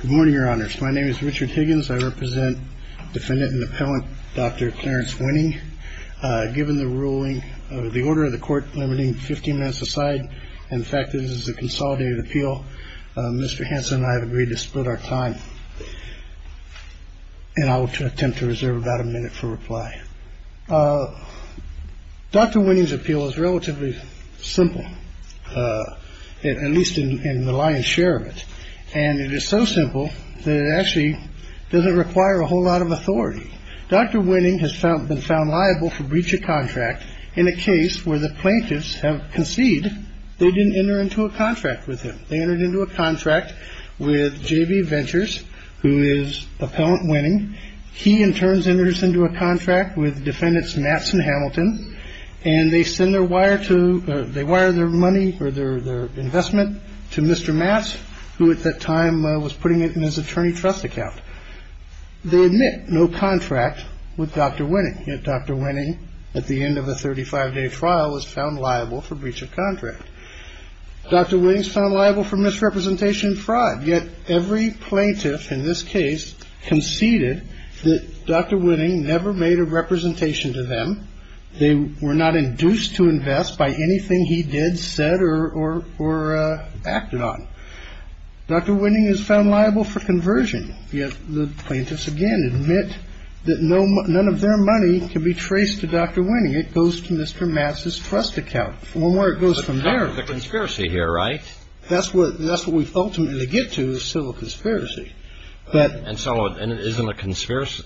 Good morning, Your Honors. My name is Richard Higgins. I represent Defendant and Appellant Dr. Clarence Winning. Given the ruling of the order of the court limiting 15 minutes aside and the fact that this is a consolidated appeal, Mr. Hanson and I have agreed to split our time, and I will attempt to reserve about a minute for reply. Dr. Winning's appeal is relatively simple, at least in the lion's share of it. And it is so simple that it actually doesn't require a whole lot of authority. Dr. Winning has been found liable for breach of contract in a case where the plaintiffs have conceded they didn't enter into a contract with him. They entered into a contract with J.V. Ventures, who is Appellant Winning. He in turn enters into a contract with Defendants Matz and Hamilton, and they send their wire to – they wire their money or their investment to Mr. Matz, who at that time was putting it in his attorney trust account. They admit no contract with Dr. Winning, yet Dr. Winning, at the end of a 35-day trial, was found liable for breach of contract. Dr. Winning's found liable for misrepresentation fraud, yet every plaintiff in this case conceded that Dr. Winning never made a representation to them. They were not induced to invest by anything he did, said, or acted on. Dr. Winning is found liable for conversion, yet the plaintiffs again admit that none of their money can be traced to Dr. Winning. And so, in this case, the plaintiffs are not liable for any of the things that the plaintiffs are not liable for. And so, the claimant's claim is that the money that Dr. Winning is holding goes to Mr. Matz's trust account. And where it goes from there – The conspiracy here, right? That's what we ultimately get to, is civil conspiracy. And so, isn't a conspirator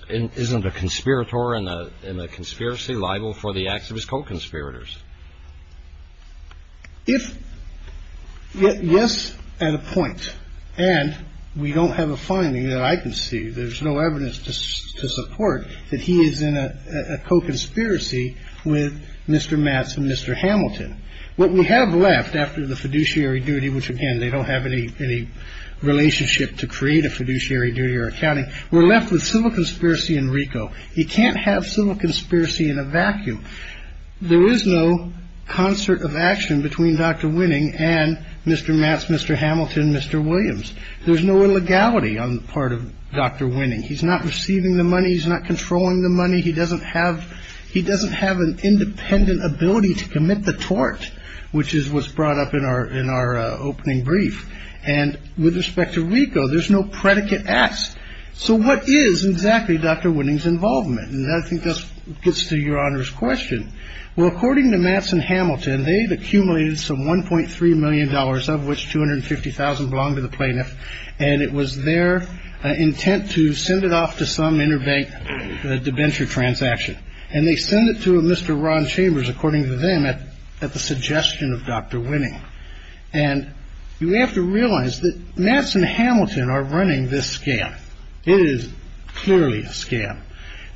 in a conspiracy liable for the acts of his co-conspirators? If – yes, at a point. And we don't have a finding that I can see. There's no evidence to support that he is in a co-conspiracy with Mr. Matz and Mr. Hamilton. What we have left after the fiduciary duty, which, again, they don't have any relationship to create a fiduciary duty or accounting, we're left with civil conspiracy in RICO. You can't have civil conspiracy in a vacuum. There is no concert of action between Dr. Winning and Mr. Matz, Mr. Hamilton, Mr. Williams. There's no illegality on the part of Dr. Winning. He's not receiving the money. He's not controlling the money. He doesn't have an independent ability to commit the tort, which is what's brought up in our opening brief. And with respect to RICO, there's no predicate acts. So, what is exactly Dr. Winning's involvement? And I think this gets to Your Honor's question. Well, according to Matz and Hamilton, they've accumulated some $1.3 million, of which $250,000 belonged to the plaintiff, and it was their intent to send it off to some interbank debenture transaction. And they sent it to Mr. Ron Chambers, according to them, at the suggestion of Dr. Winning. And you have to realize that Matz and Hamilton are running this scam. It is clearly a scam.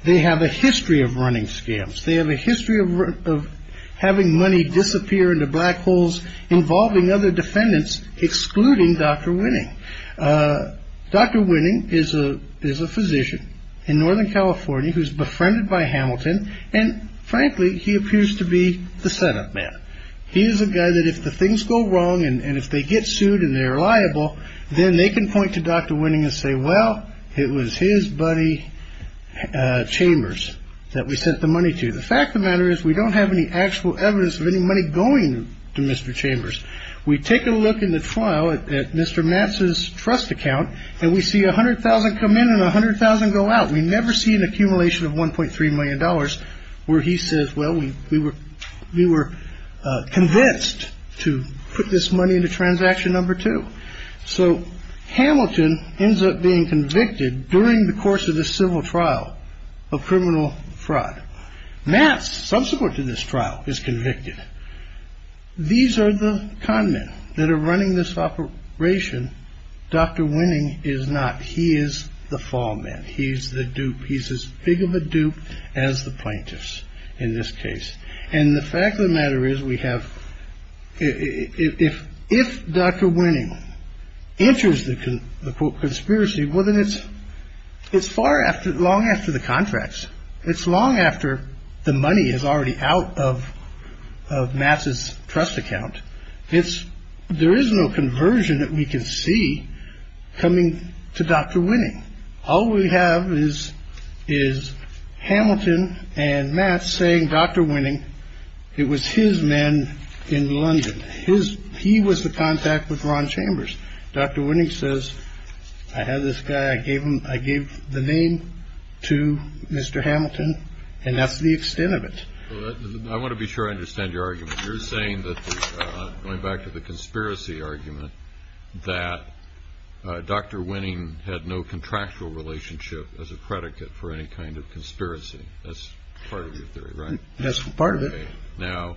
They have a history of running scams. They have a history of having money disappear into black holes involving other defendants, excluding Dr. Winning. Dr. Winning is a physician in Northern California who's befriended by Hamilton. And frankly, he appears to be the setup man. He is a guy that if the things go wrong and if they get sued and they're liable, then they can point to Dr. Winning and say, well, it was his buddy Chambers that we sent the money to. The fact of the matter is we don't have any actual evidence of any money going to Mr. Chambers. We take a look in the trial at Mr. Matz's trust account and we see $100,000 come in and $100,000 go out. We never see an accumulation of $1.3 million where he says, well, we were convinced to put this money into transaction number two. So Hamilton ends up being convicted during the course of the civil trial of criminal fraud. Matz, subsequent to this trial, is convicted. These are the con men that are running this operation. Dr. Winning is not. He is the fall man. He's the dupe. He's as big of a dupe as the plaintiffs in this case. And the fact of the matter is we have it. If Dr. Winning enters the conspiracy, well, then it's it's far after long after the contracts. It's long after the money is already out of of Matz's trust account. It's there is no conversion that we can see coming to Dr. Winning. All we have is is Hamilton and Matz saying Dr. Winning. It was his men in London. His he was the contact with Ron Chambers. Dr. Winning says, I have this guy. I gave him I gave the name to Mr. Hamilton. And that's the extent of it. I want to be sure I understand your argument. You're saying that going back to the conspiracy argument that Dr. Winning had no contractual relationship as a predicate for any kind of conspiracy. That's part of your theory, right? That's part of it. Now,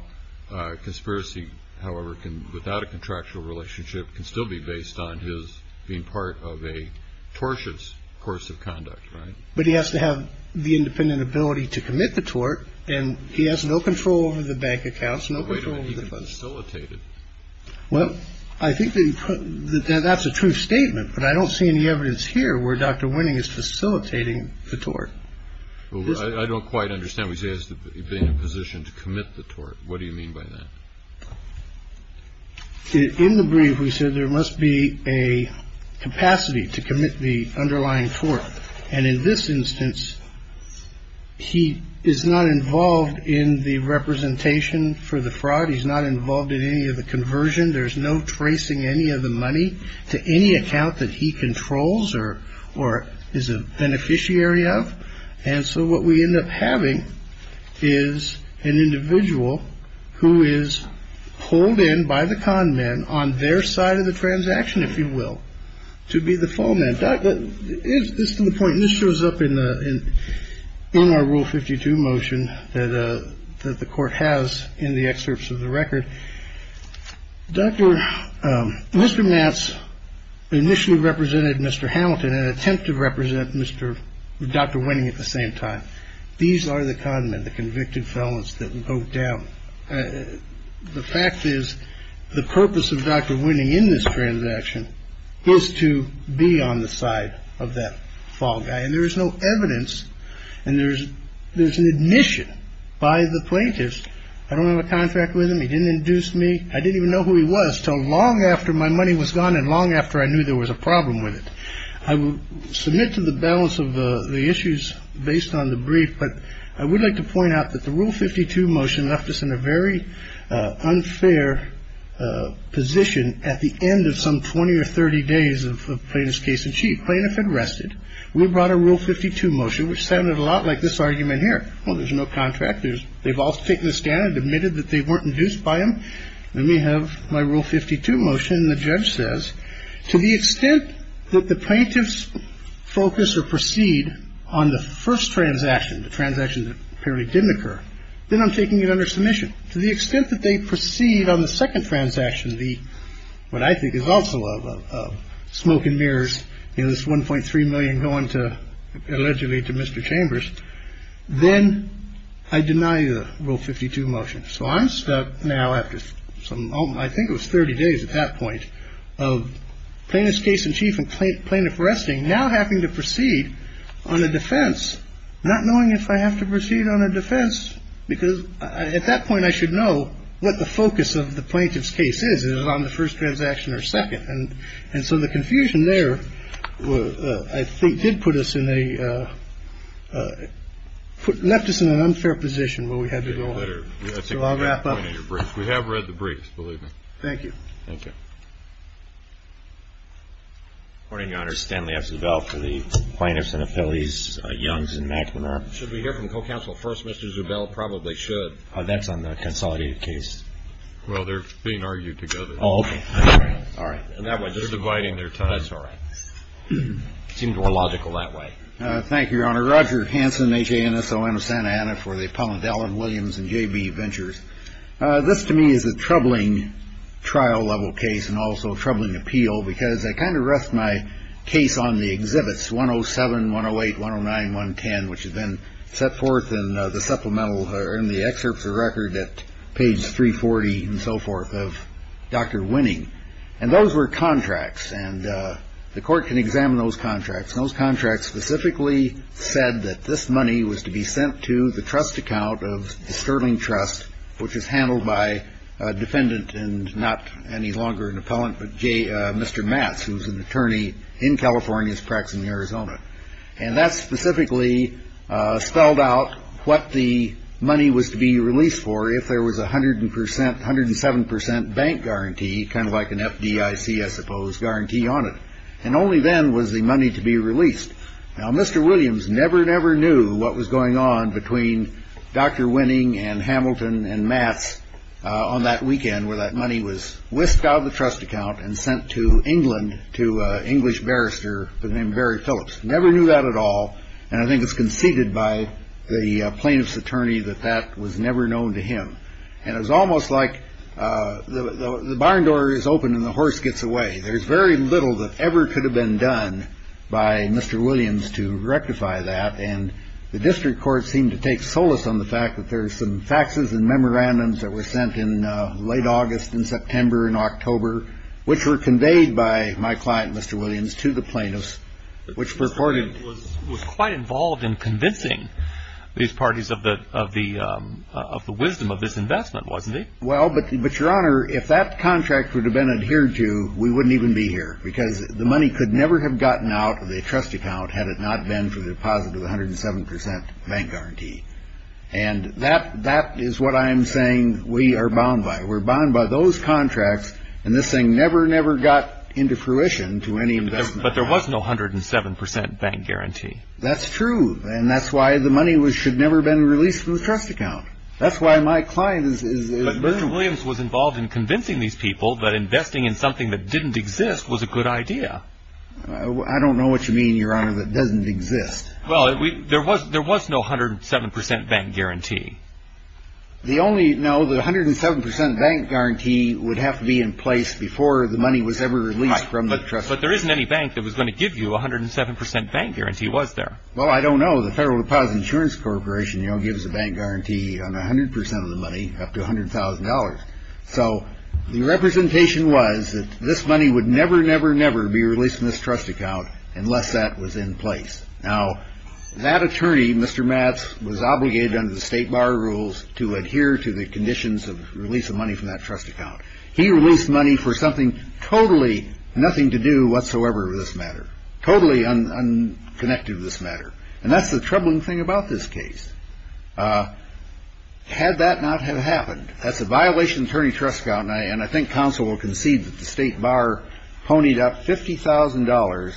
conspiracy, however, can without a contractual relationship can still be based on his being part of a tortious course of conduct. But he has to have the independent ability to commit the tort. And he has no control over the bank accounts. No way to facilitate it. Well, I think that that's a true statement. But I don't see any evidence here where Dr. Winning is facilitating the tort. I don't quite understand. We say has been in a position to commit the tort. What do you mean by that? In the brief, we said there must be a capacity to commit the underlying tort. And in this instance, he is not involved in the representation for the fraud. He's not involved in any of the conversion. There's no tracing any of the money to any account that he controls or or is a beneficiary of. And so what we end up having is an individual who is pulled in by the con men on their side of the transaction, if you will. To be the fall man. This is the point. And this shows up in our Rule 52 motion that the Court has in the excerpts of the record. Dr. Mr. Matz initially represented Mr. Hamilton in an attempt to represent Mr. Dr. Winning at the same time. These are the con men, the convicted felons that vote down. The fact is the purpose of Dr. Winning in this transaction is to be on the side of that fall guy. And there is no evidence. And there's there's an admission by the plaintiffs. I don't have a contract with him. He didn't induce me. I didn't even know who he was till long after my money was gone and long after I knew there was a problem with it. I will submit to the balance of the issues based on the brief. But I would like to point out that the Rule 52 motion left us in a very unfair position. At the end of some 20 or 30 days of plaintiff's case in chief, plaintiff had rested. We brought a Rule 52 motion, which sounded a lot like this argument here. Well, there's no contractors. They've all taken a stand and admitted that they weren't induced by him. Let me have my Rule 52 motion. And the judge says to the extent that the plaintiff's focus or proceed on the first transaction, the transaction that apparently didn't occur. Then I'm taking it under submission to the extent that they proceed on the second transaction. The what I think is also of smoke and mirrors. It was one point three million going to allegedly to Mr. Chambers. Then I deny the Rule 52 motion. So I'm stuck now after some I think it was 30 days at that point of plaintiff's case in chief and plaintiff resting now having to proceed on a defense, not knowing if I have to proceed on a defense because at that point I should know what the focus of the plaintiff's case is. Is it on the first transaction or second? And so the confusion there, I think, did put us in a put left us in an unfair position where we had to go. I'll wrap up. We have read the brief. Believe me. Thank you. Thank you. Morning, Your Honor. Stanley has developed for the plaintiffs and appellees. Young's and Mack should be here from co-counsel. First, Mr. Zubel probably should. That's on the consolidated case. Well, they're being argued together. All right. All right. And that was dividing their ties. All right. It seemed more logical that way. Thank you, Your Honor. Roger Hansen, H.A. and S.O.N. of Santa Ana for the appellant Allen Williams and J.B. Ventures. This to me is a troubling trial level case and also a troubling appeal because I kind of rest my case on the exhibits 107, 108, 109, 110, which has been set forth in the supplemental or in the excerpts of record at page 340 and so forth of Dr. Winning. And those were contracts and the court can examine those contracts. Those contracts specifically said that this money was to be sent to the trust account of the Sterling Trust, which is handled by a defendant and not any longer an appellant, but J. Mr. Matz, who was an attorney in California's practice in Arizona. And that specifically spelled out what the money was to be released for if there was 100 percent, 107 percent bank guarantee, kind of like an FDIC, I suppose, guarantee on it. And only then was the money to be released. Now, Mr. Williams never, never knew what was going on between Dr. Winning and Hamilton and Matz on that weekend where that money was whisked out of the trust account and sent to England to an English barrister named Barry Phillips. Never knew that at all. And I think it's conceded by the plaintiff's attorney that that was never known to him. And it was almost like the barn door is open and the horse gets away. There's very little that ever could have been done by Mr. Williams to rectify that. And the district court seemed to take solace on the fact that there are some faxes and memorandums that were sent in late August and September and October, which were conveyed by my client, Mr. Williams, to the plaintiffs, which purported was quite involved in convincing these parties of the of the of the wisdom of this investment, wasn't it? Well, but but your honor, if that contract would have been adhered to, we wouldn't even be here because the money could never have gotten out of the trust account had it not been for the deposit of one hundred and seven percent bank guarantee. And that that is what I am saying. We are bound by we're bound by those contracts. And this thing never, never got into fruition to any investment. But there was no hundred and seven percent bank guarantee. That's true. And that's why the money was should never been released from the trust account. That's why my client is Mr. Williams was involved in convincing these people that investing in something that didn't exist was a good idea. I don't know what you mean, your honor, that doesn't exist. Well, there was there was no hundred and seven percent bank guarantee. The only now the hundred and seven percent bank guarantee would have to be in place before the money was ever released from the trust. But there isn't any bank that was going to give you one hundred and seven percent bank guarantee. Was there? Well, I don't know. The Federal Deposit Insurance Corporation, you know, gives a bank guarantee on one hundred percent of the money, up to one hundred thousand dollars. So the representation was that this money would never, never, never be released from this trust account unless that was in place. Now, that attorney, Mr. Matz, was obligated under the state bar rules to adhere to the conditions of release of money from that trust account. He released money for something totally nothing to do whatsoever. This matter, totally unconnected to this matter. And that's the troubling thing about this case. Had that not have happened, that's a violation of attorney trust. And I think counsel will concede that the state bar ponied up fifty thousand dollars,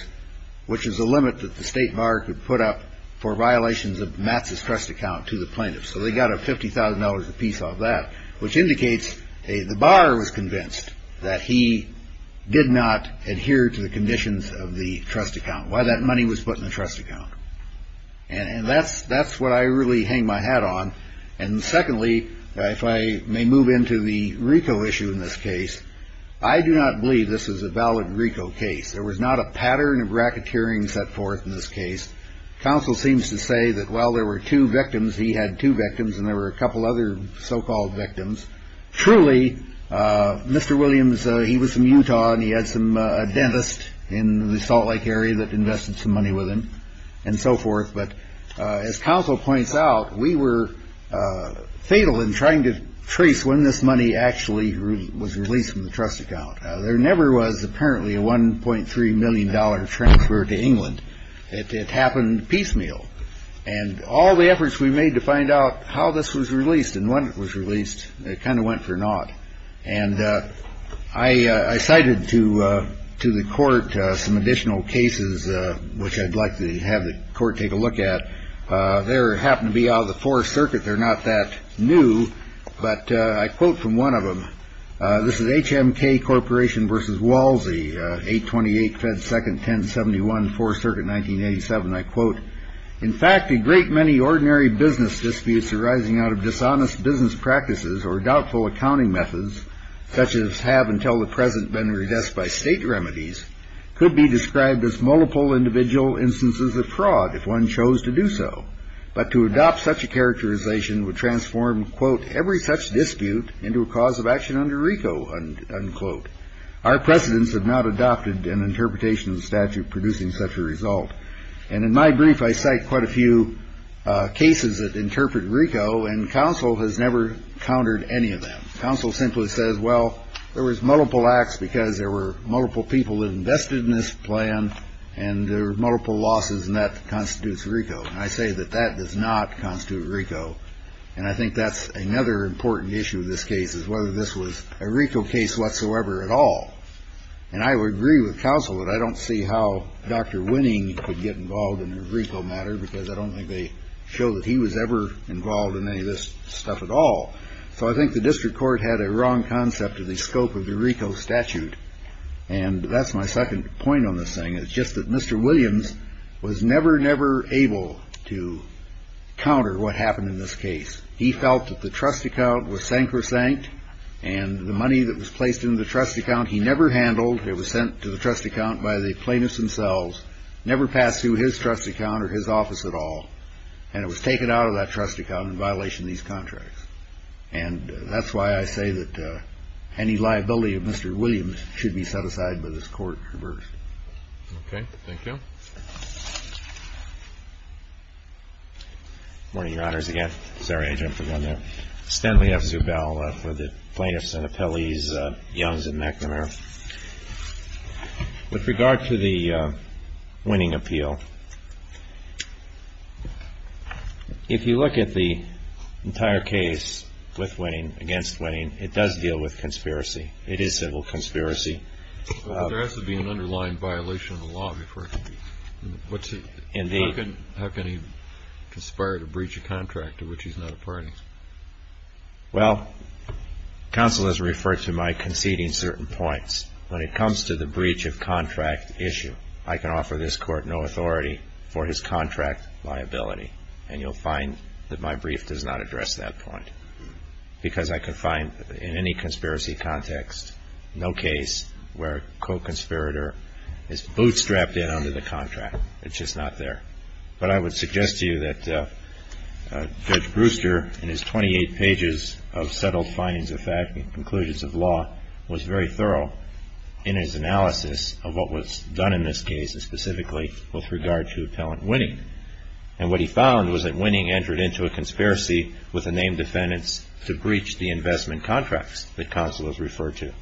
which is a limit that the state bar could put up for violations of Matz's trust account to the plaintiffs. So they got a fifty thousand dollars a piece of that, which indicates the bar was convinced that he did not adhere to the conditions of the trust account, why that money was put in the trust account. And that's that's what I really hang my hat on. And secondly, if I may move into the Rico issue in this case, I do not believe this is a valid Rico case. There was not a pattern of racketeering set forth in this case. Counsel seems to say that while there were two victims, he had two victims and there were a couple other so-called victims. Truly, Mr. Williams, he was from Utah and he had some dentist in the Salt Lake area that invested some money with him and so forth. But as counsel points out, we were fatal in trying to trace when this money actually was released from the trust account. There never was apparently a one point three million dollar transfer to England. It happened piecemeal. And all the efforts we made to find out how this was released and when it was released, it kind of went for naught. And I cited to to the court some additional cases which I'd like to have the court take a look at. There happened to be out of the fourth circuit. They're not that new. But I quote from one of them. This is H.M.K. Corporation versus Walsey. Eight. Twenty eight. Fed. Second. Ten. Seventy one. Four. Certain. Nineteen. Eighty seven. I quote. In fact, a great many ordinary business disputes arising out of dishonest business practices or doubtful accounting methods, such as have until the present been redressed by state remedies, could be described as multiple individual instances of fraud if one chose to do so. But to adopt such a characterization would transform, quote, every such dispute into a cause of action under Rico. Unquote. Our presidents have not adopted an interpretation of the statute producing such a result. And in my brief, I cite quite a few cases that interpret Rico and counsel has never countered any of them. Counsel simply says, well, there was multiple acts because there were multiple people invested in this plan. And there were multiple losses. And that constitutes Rico. I say that that does not constitute Rico. And I think that's another important issue. This case is whether this was a Rico case whatsoever at all. And I would agree with counsel that I don't see how Dr. Winning could get involved in a Rico matter, because I don't think they show that he was ever involved in any of this stuff at all. So I think the district court had a wrong concept of the scope of the Rico statute. And that's my second point on this thing is just that Mr. Williams was never, never able to counter what happened in this case. He felt that the trust account was sank or sank and the money that was placed in the trust account. He never handled it was sent to the trust account by the plaintiffs themselves. Never passed through his trust account or his office at all. And it was taken out of that trust account in violation of these contracts. And that's why I say that any liability of Mr. Williams should be set aside by this court reversed. Okay. Thank you. Morning, Your Honors, again. Sorry, I jumped on that. Stanley F. Zubel for the plaintiffs and appellees, Youngs and McNamara. With regard to the winning appeal, if you look at the entire case with winning, against winning, it does deal with conspiracy. It is civil conspiracy. There has to be an underlying violation of the law before it can be. Indeed. How can he conspire to breach a contract to which he's not a party? Well, counsel has referred to my conceding certain points. When it comes to the breach of contract issue, I can offer this court no authority for his contract liability. And you'll find that my brief does not address that point because I can find in any conspiracy context, no case where a co-conspirator is bootstrapped in under the contract. It's just not there. But I would suggest to you that Judge Brewster, in his 28 pages of settled findings of fact and conclusions of law, was very thorough in his analysis of what was done in this case, and specifically with regard to appellant winning. And what he found was that winning entered into a conspiracy with the named defendants to breach the investment contracts that counsel has referred to.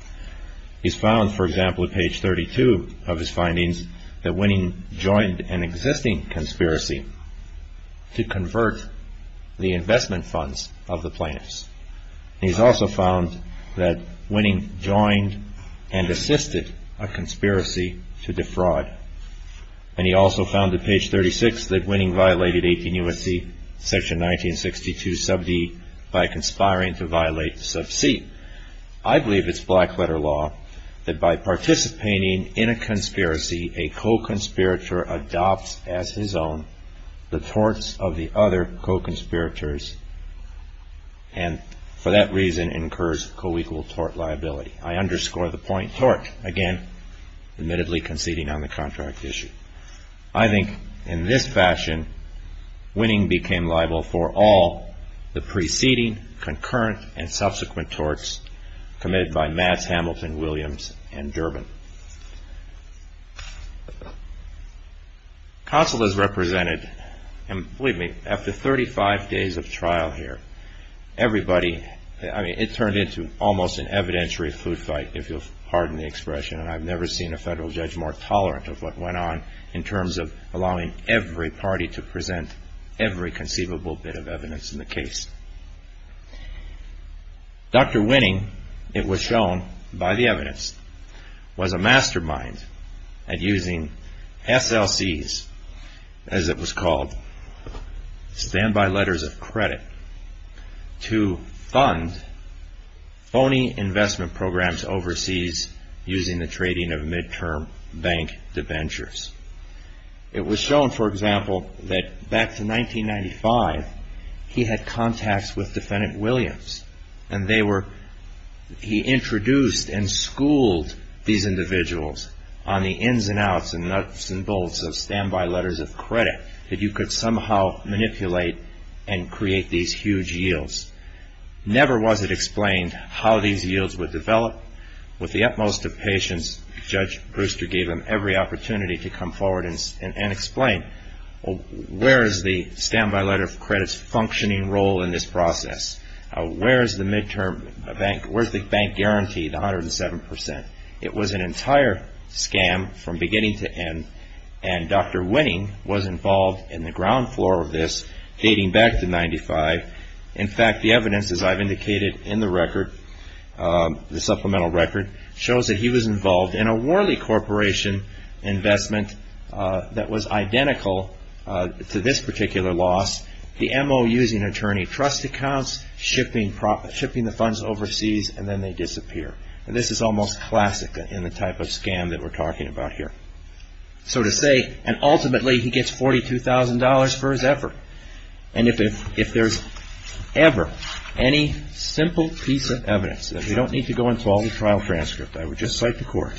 He's found, for example, at page 32 of his findings, that winning joined an existing conspiracy to convert the investment funds of the plaintiffs. And he's also found that winning joined and assisted a conspiracy to defraud. And he also found at page 36 that winning violated 18 U.S.C. section 1962 sub D by conspiring to violate sub C. I believe it's black letter law that by participating in a conspiracy, a co-conspirator adopts as his own the torts of the other co-conspirators, and for that reason incurs co-equal tort liability. I underscore the point. Tort, again, admittedly conceding on the contract issue. I think in this fashion, winning became liable for all the preceding, concurrent, and subsequent torts committed by Mads Hamilton, Williams, and Durbin. Counsel has represented, and believe me, after 35 days of trial here, everybody, I mean, it turned into almost an evidentiary food fight, if you'll pardon the expression, and I've never seen a federal judge more tolerant of what went on in terms of allowing every party to present every conceivable bit of evidence in the case. Dr. Winning, it was shown by the evidence, was a mastermind at using SLCs, as it was called, standby letters of credit, to fund phony investment programs overseas using the trading of mid-term bank debentures. It was shown, for example, that back to 1995, he had contacts with defendant Williams, and they were, he introduced and schooled these individuals on the ins and outs and nuts and bolts of standby letters of credit, that you could somehow manipulate and create these huge yields. Never was it explained how these yields would develop. With the utmost of patience, Judge Brewster gave him every opportunity to come forward and explain, where is the standby letter of credit's functioning role in this process? Where is the mid-term, where's the bank guarantee, the 107 percent? It was an entire scam from beginning to end, and Dr. Winning was involved in the ground floor of this, dating back to 1995. In fact, the evidence, as I've indicated in the record, the supplemental record, shows that he was involved in a Worley Corporation investment that was identical to this particular loss, the M.O. using attorney trust accounts, shipping the funds overseas, and then they disappear. And this is almost classic in the type of scam that we're talking about here. So to say, and ultimately, he gets $42,000 for his effort. And if there's ever any simple piece of evidence, and we don't need to go into all the trial transcripts, I would just cite the court,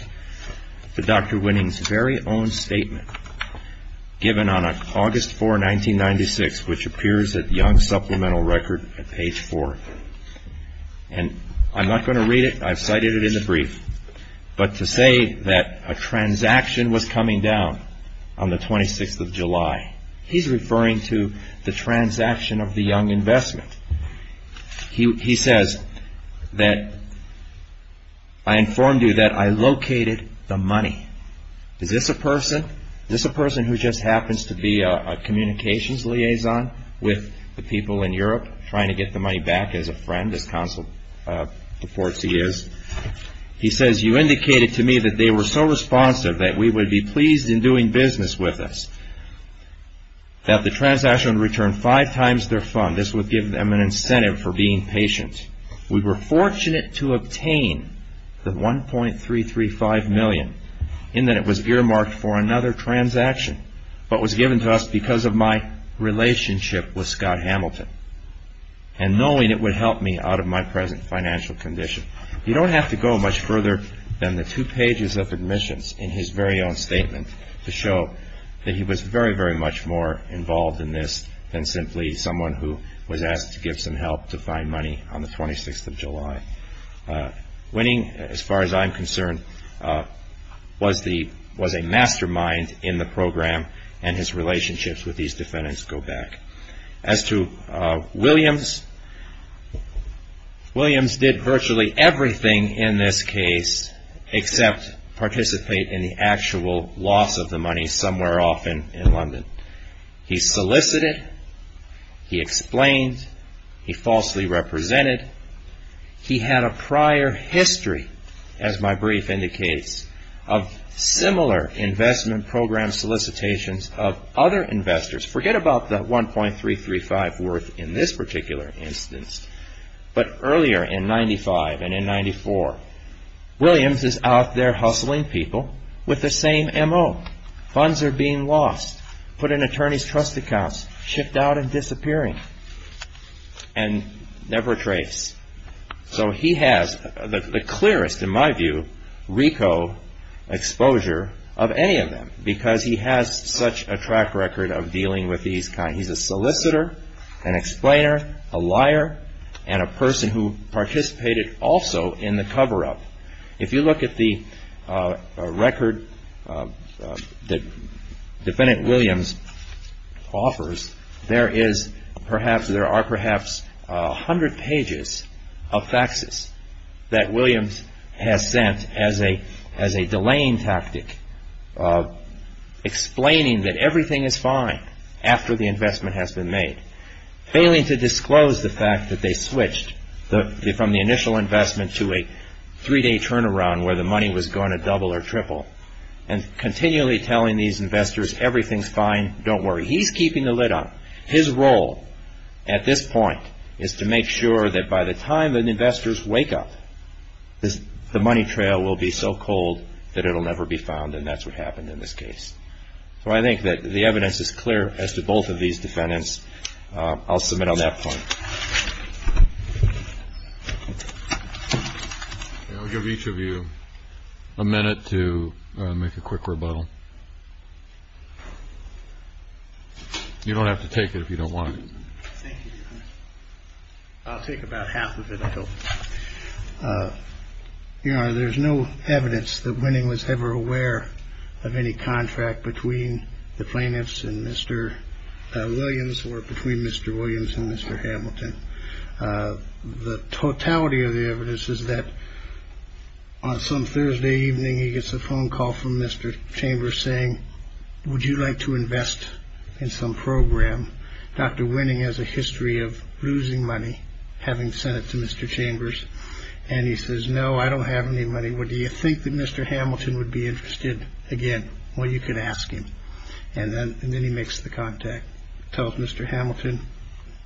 that Dr. Winning's very own statement, given on August 4, 1996, which appears at Young's supplemental record at page 4. And I'm not going to read it. I've cited it in the brief. But to say that a transaction was coming down on the 26th of July, he's referring to the transaction of the Young investment. He says that, I informed you that I located the money. Is this a person? Is this a person who just happens to be a communications liaison with the people in Europe, trying to get the money back as a friend, as counsel reports he is? He says, you indicated to me that they were so responsive that we would be pleased in doing business with us, that the transaction would return five times their fund. This would give them an incentive for being patient. We were fortunate to obtain the $1.335 million in that it was earmarked for another transaction but was given to us because of my relationship with Scott Hamilton and knowing it would help me out of my present financial condition. You don't have to go much further than the two pages of admissions in his very own statement to show that he was very, very much more involved in this than simply someone who was asked to give some help to find money on the 26th of July. Winning, as far as I'm concerned, was a mastermind in the program and his relationships with these defendants go back. As to Williams, Williams did virtually everything in this case except participate in the actual loss of the money somewhere off in London. He solicited, he explained, he falsely represented. He had a prior history, as my brief indicates, of similar investment program solicitations of other investors. Forget about the $1.335 worth in this particular instance, but earlier in 1995 and in 1994, Williams is out there hustling people with the same M.O. Funds are being lost, put in attorney's trust accounts, chipped out and disappearing, and never traced. So he has the clearest, in my view, RICO exposure of any of them because he has such a track record of dealing with these kinds. He's a solicitor, an explainer, a liar, and a person who participated also in the cover-up. If you look at the record that Defendant Williams offers, there are perhaps 100 pages of faxes that Williams has sent as a delaying tactic, explaining that everything is fine after the investment has been made, failing to disclose the fact that they switched from the initial investment to a three-day turnaround where the money was going to double or triple, and continually telling these investors everything's fine, don't worry. He's keeping the lid on. His role at this point is to make sure that by the time that investors wake up, the money trail will be so cold that it will never be found, and that's what happened in this case. So I think that the evidence is clear as to both of these defendants. I'll submit on that point. I'll give each of you a minute to make a quick rebuttal. You don't have to take it if you don't want it. Thank you, Your Honor. I'll take about half of it, I hope. Your Honor, there's no evidence that Winning was ever aware of any contract between the plaintiffs and Mr. Williams or between Mr. Williams and Mr. Hamilton. The totality of the evidence is that on some Thursday evening, he gets a phone call from Mr. Chambers saying, would you like to invest in some program? Dr. Winning has a history of losing money, having sent it to Mr. Chambers, and he says, no, I don't have any money. And he says, would you think that Mr. Hamilton would be interested again? Well, you could ask him. And then he makes the contact, tells Mr. Hamilton,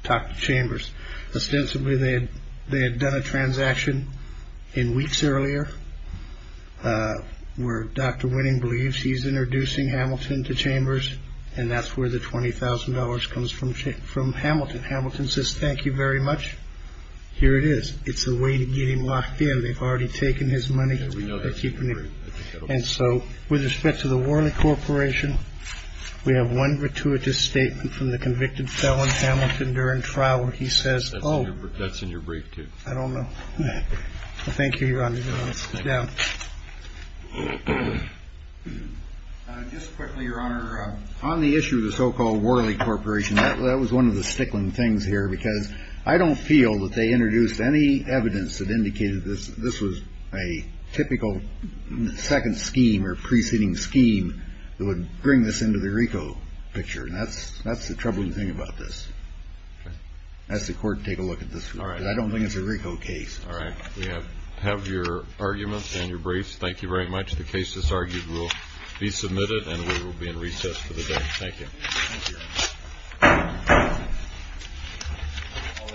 talked to Chambers. Ostensibly, they had done a transaction in weeks earlier where Dr. Winning believes he's introducing Hamilton to Chambers, and that's where the $20,000 comes from Hamilton. Hamilton says, thank you very much. Here it is. It's a way to get him locked in. They've already taken his money. And so with respect to the Worley Corporation, we have one gratuitous statement from the convicted felon Hamilton during trial where he says, oh. That's in your brief, too. I don't know. Thank you, Your Honor. Let's sit down. Just quickly, Your Honor, on the issue of the so-called Worley Corporation, that was one of the stickling things here, because I don't feel that they introduced any evidence that indicated this was a typical second scheme or preceding scheme that would bring this into the RICO picture. And that's the troubling thing about this. Okay. Ask the court to take a look at this. All right. Because I don't think it's a RICO case. All right. We have your arguments and your briefs. Thank you very much. The case is argued, will be submitted, and we will be in recess for the day. Thank you. Thank you.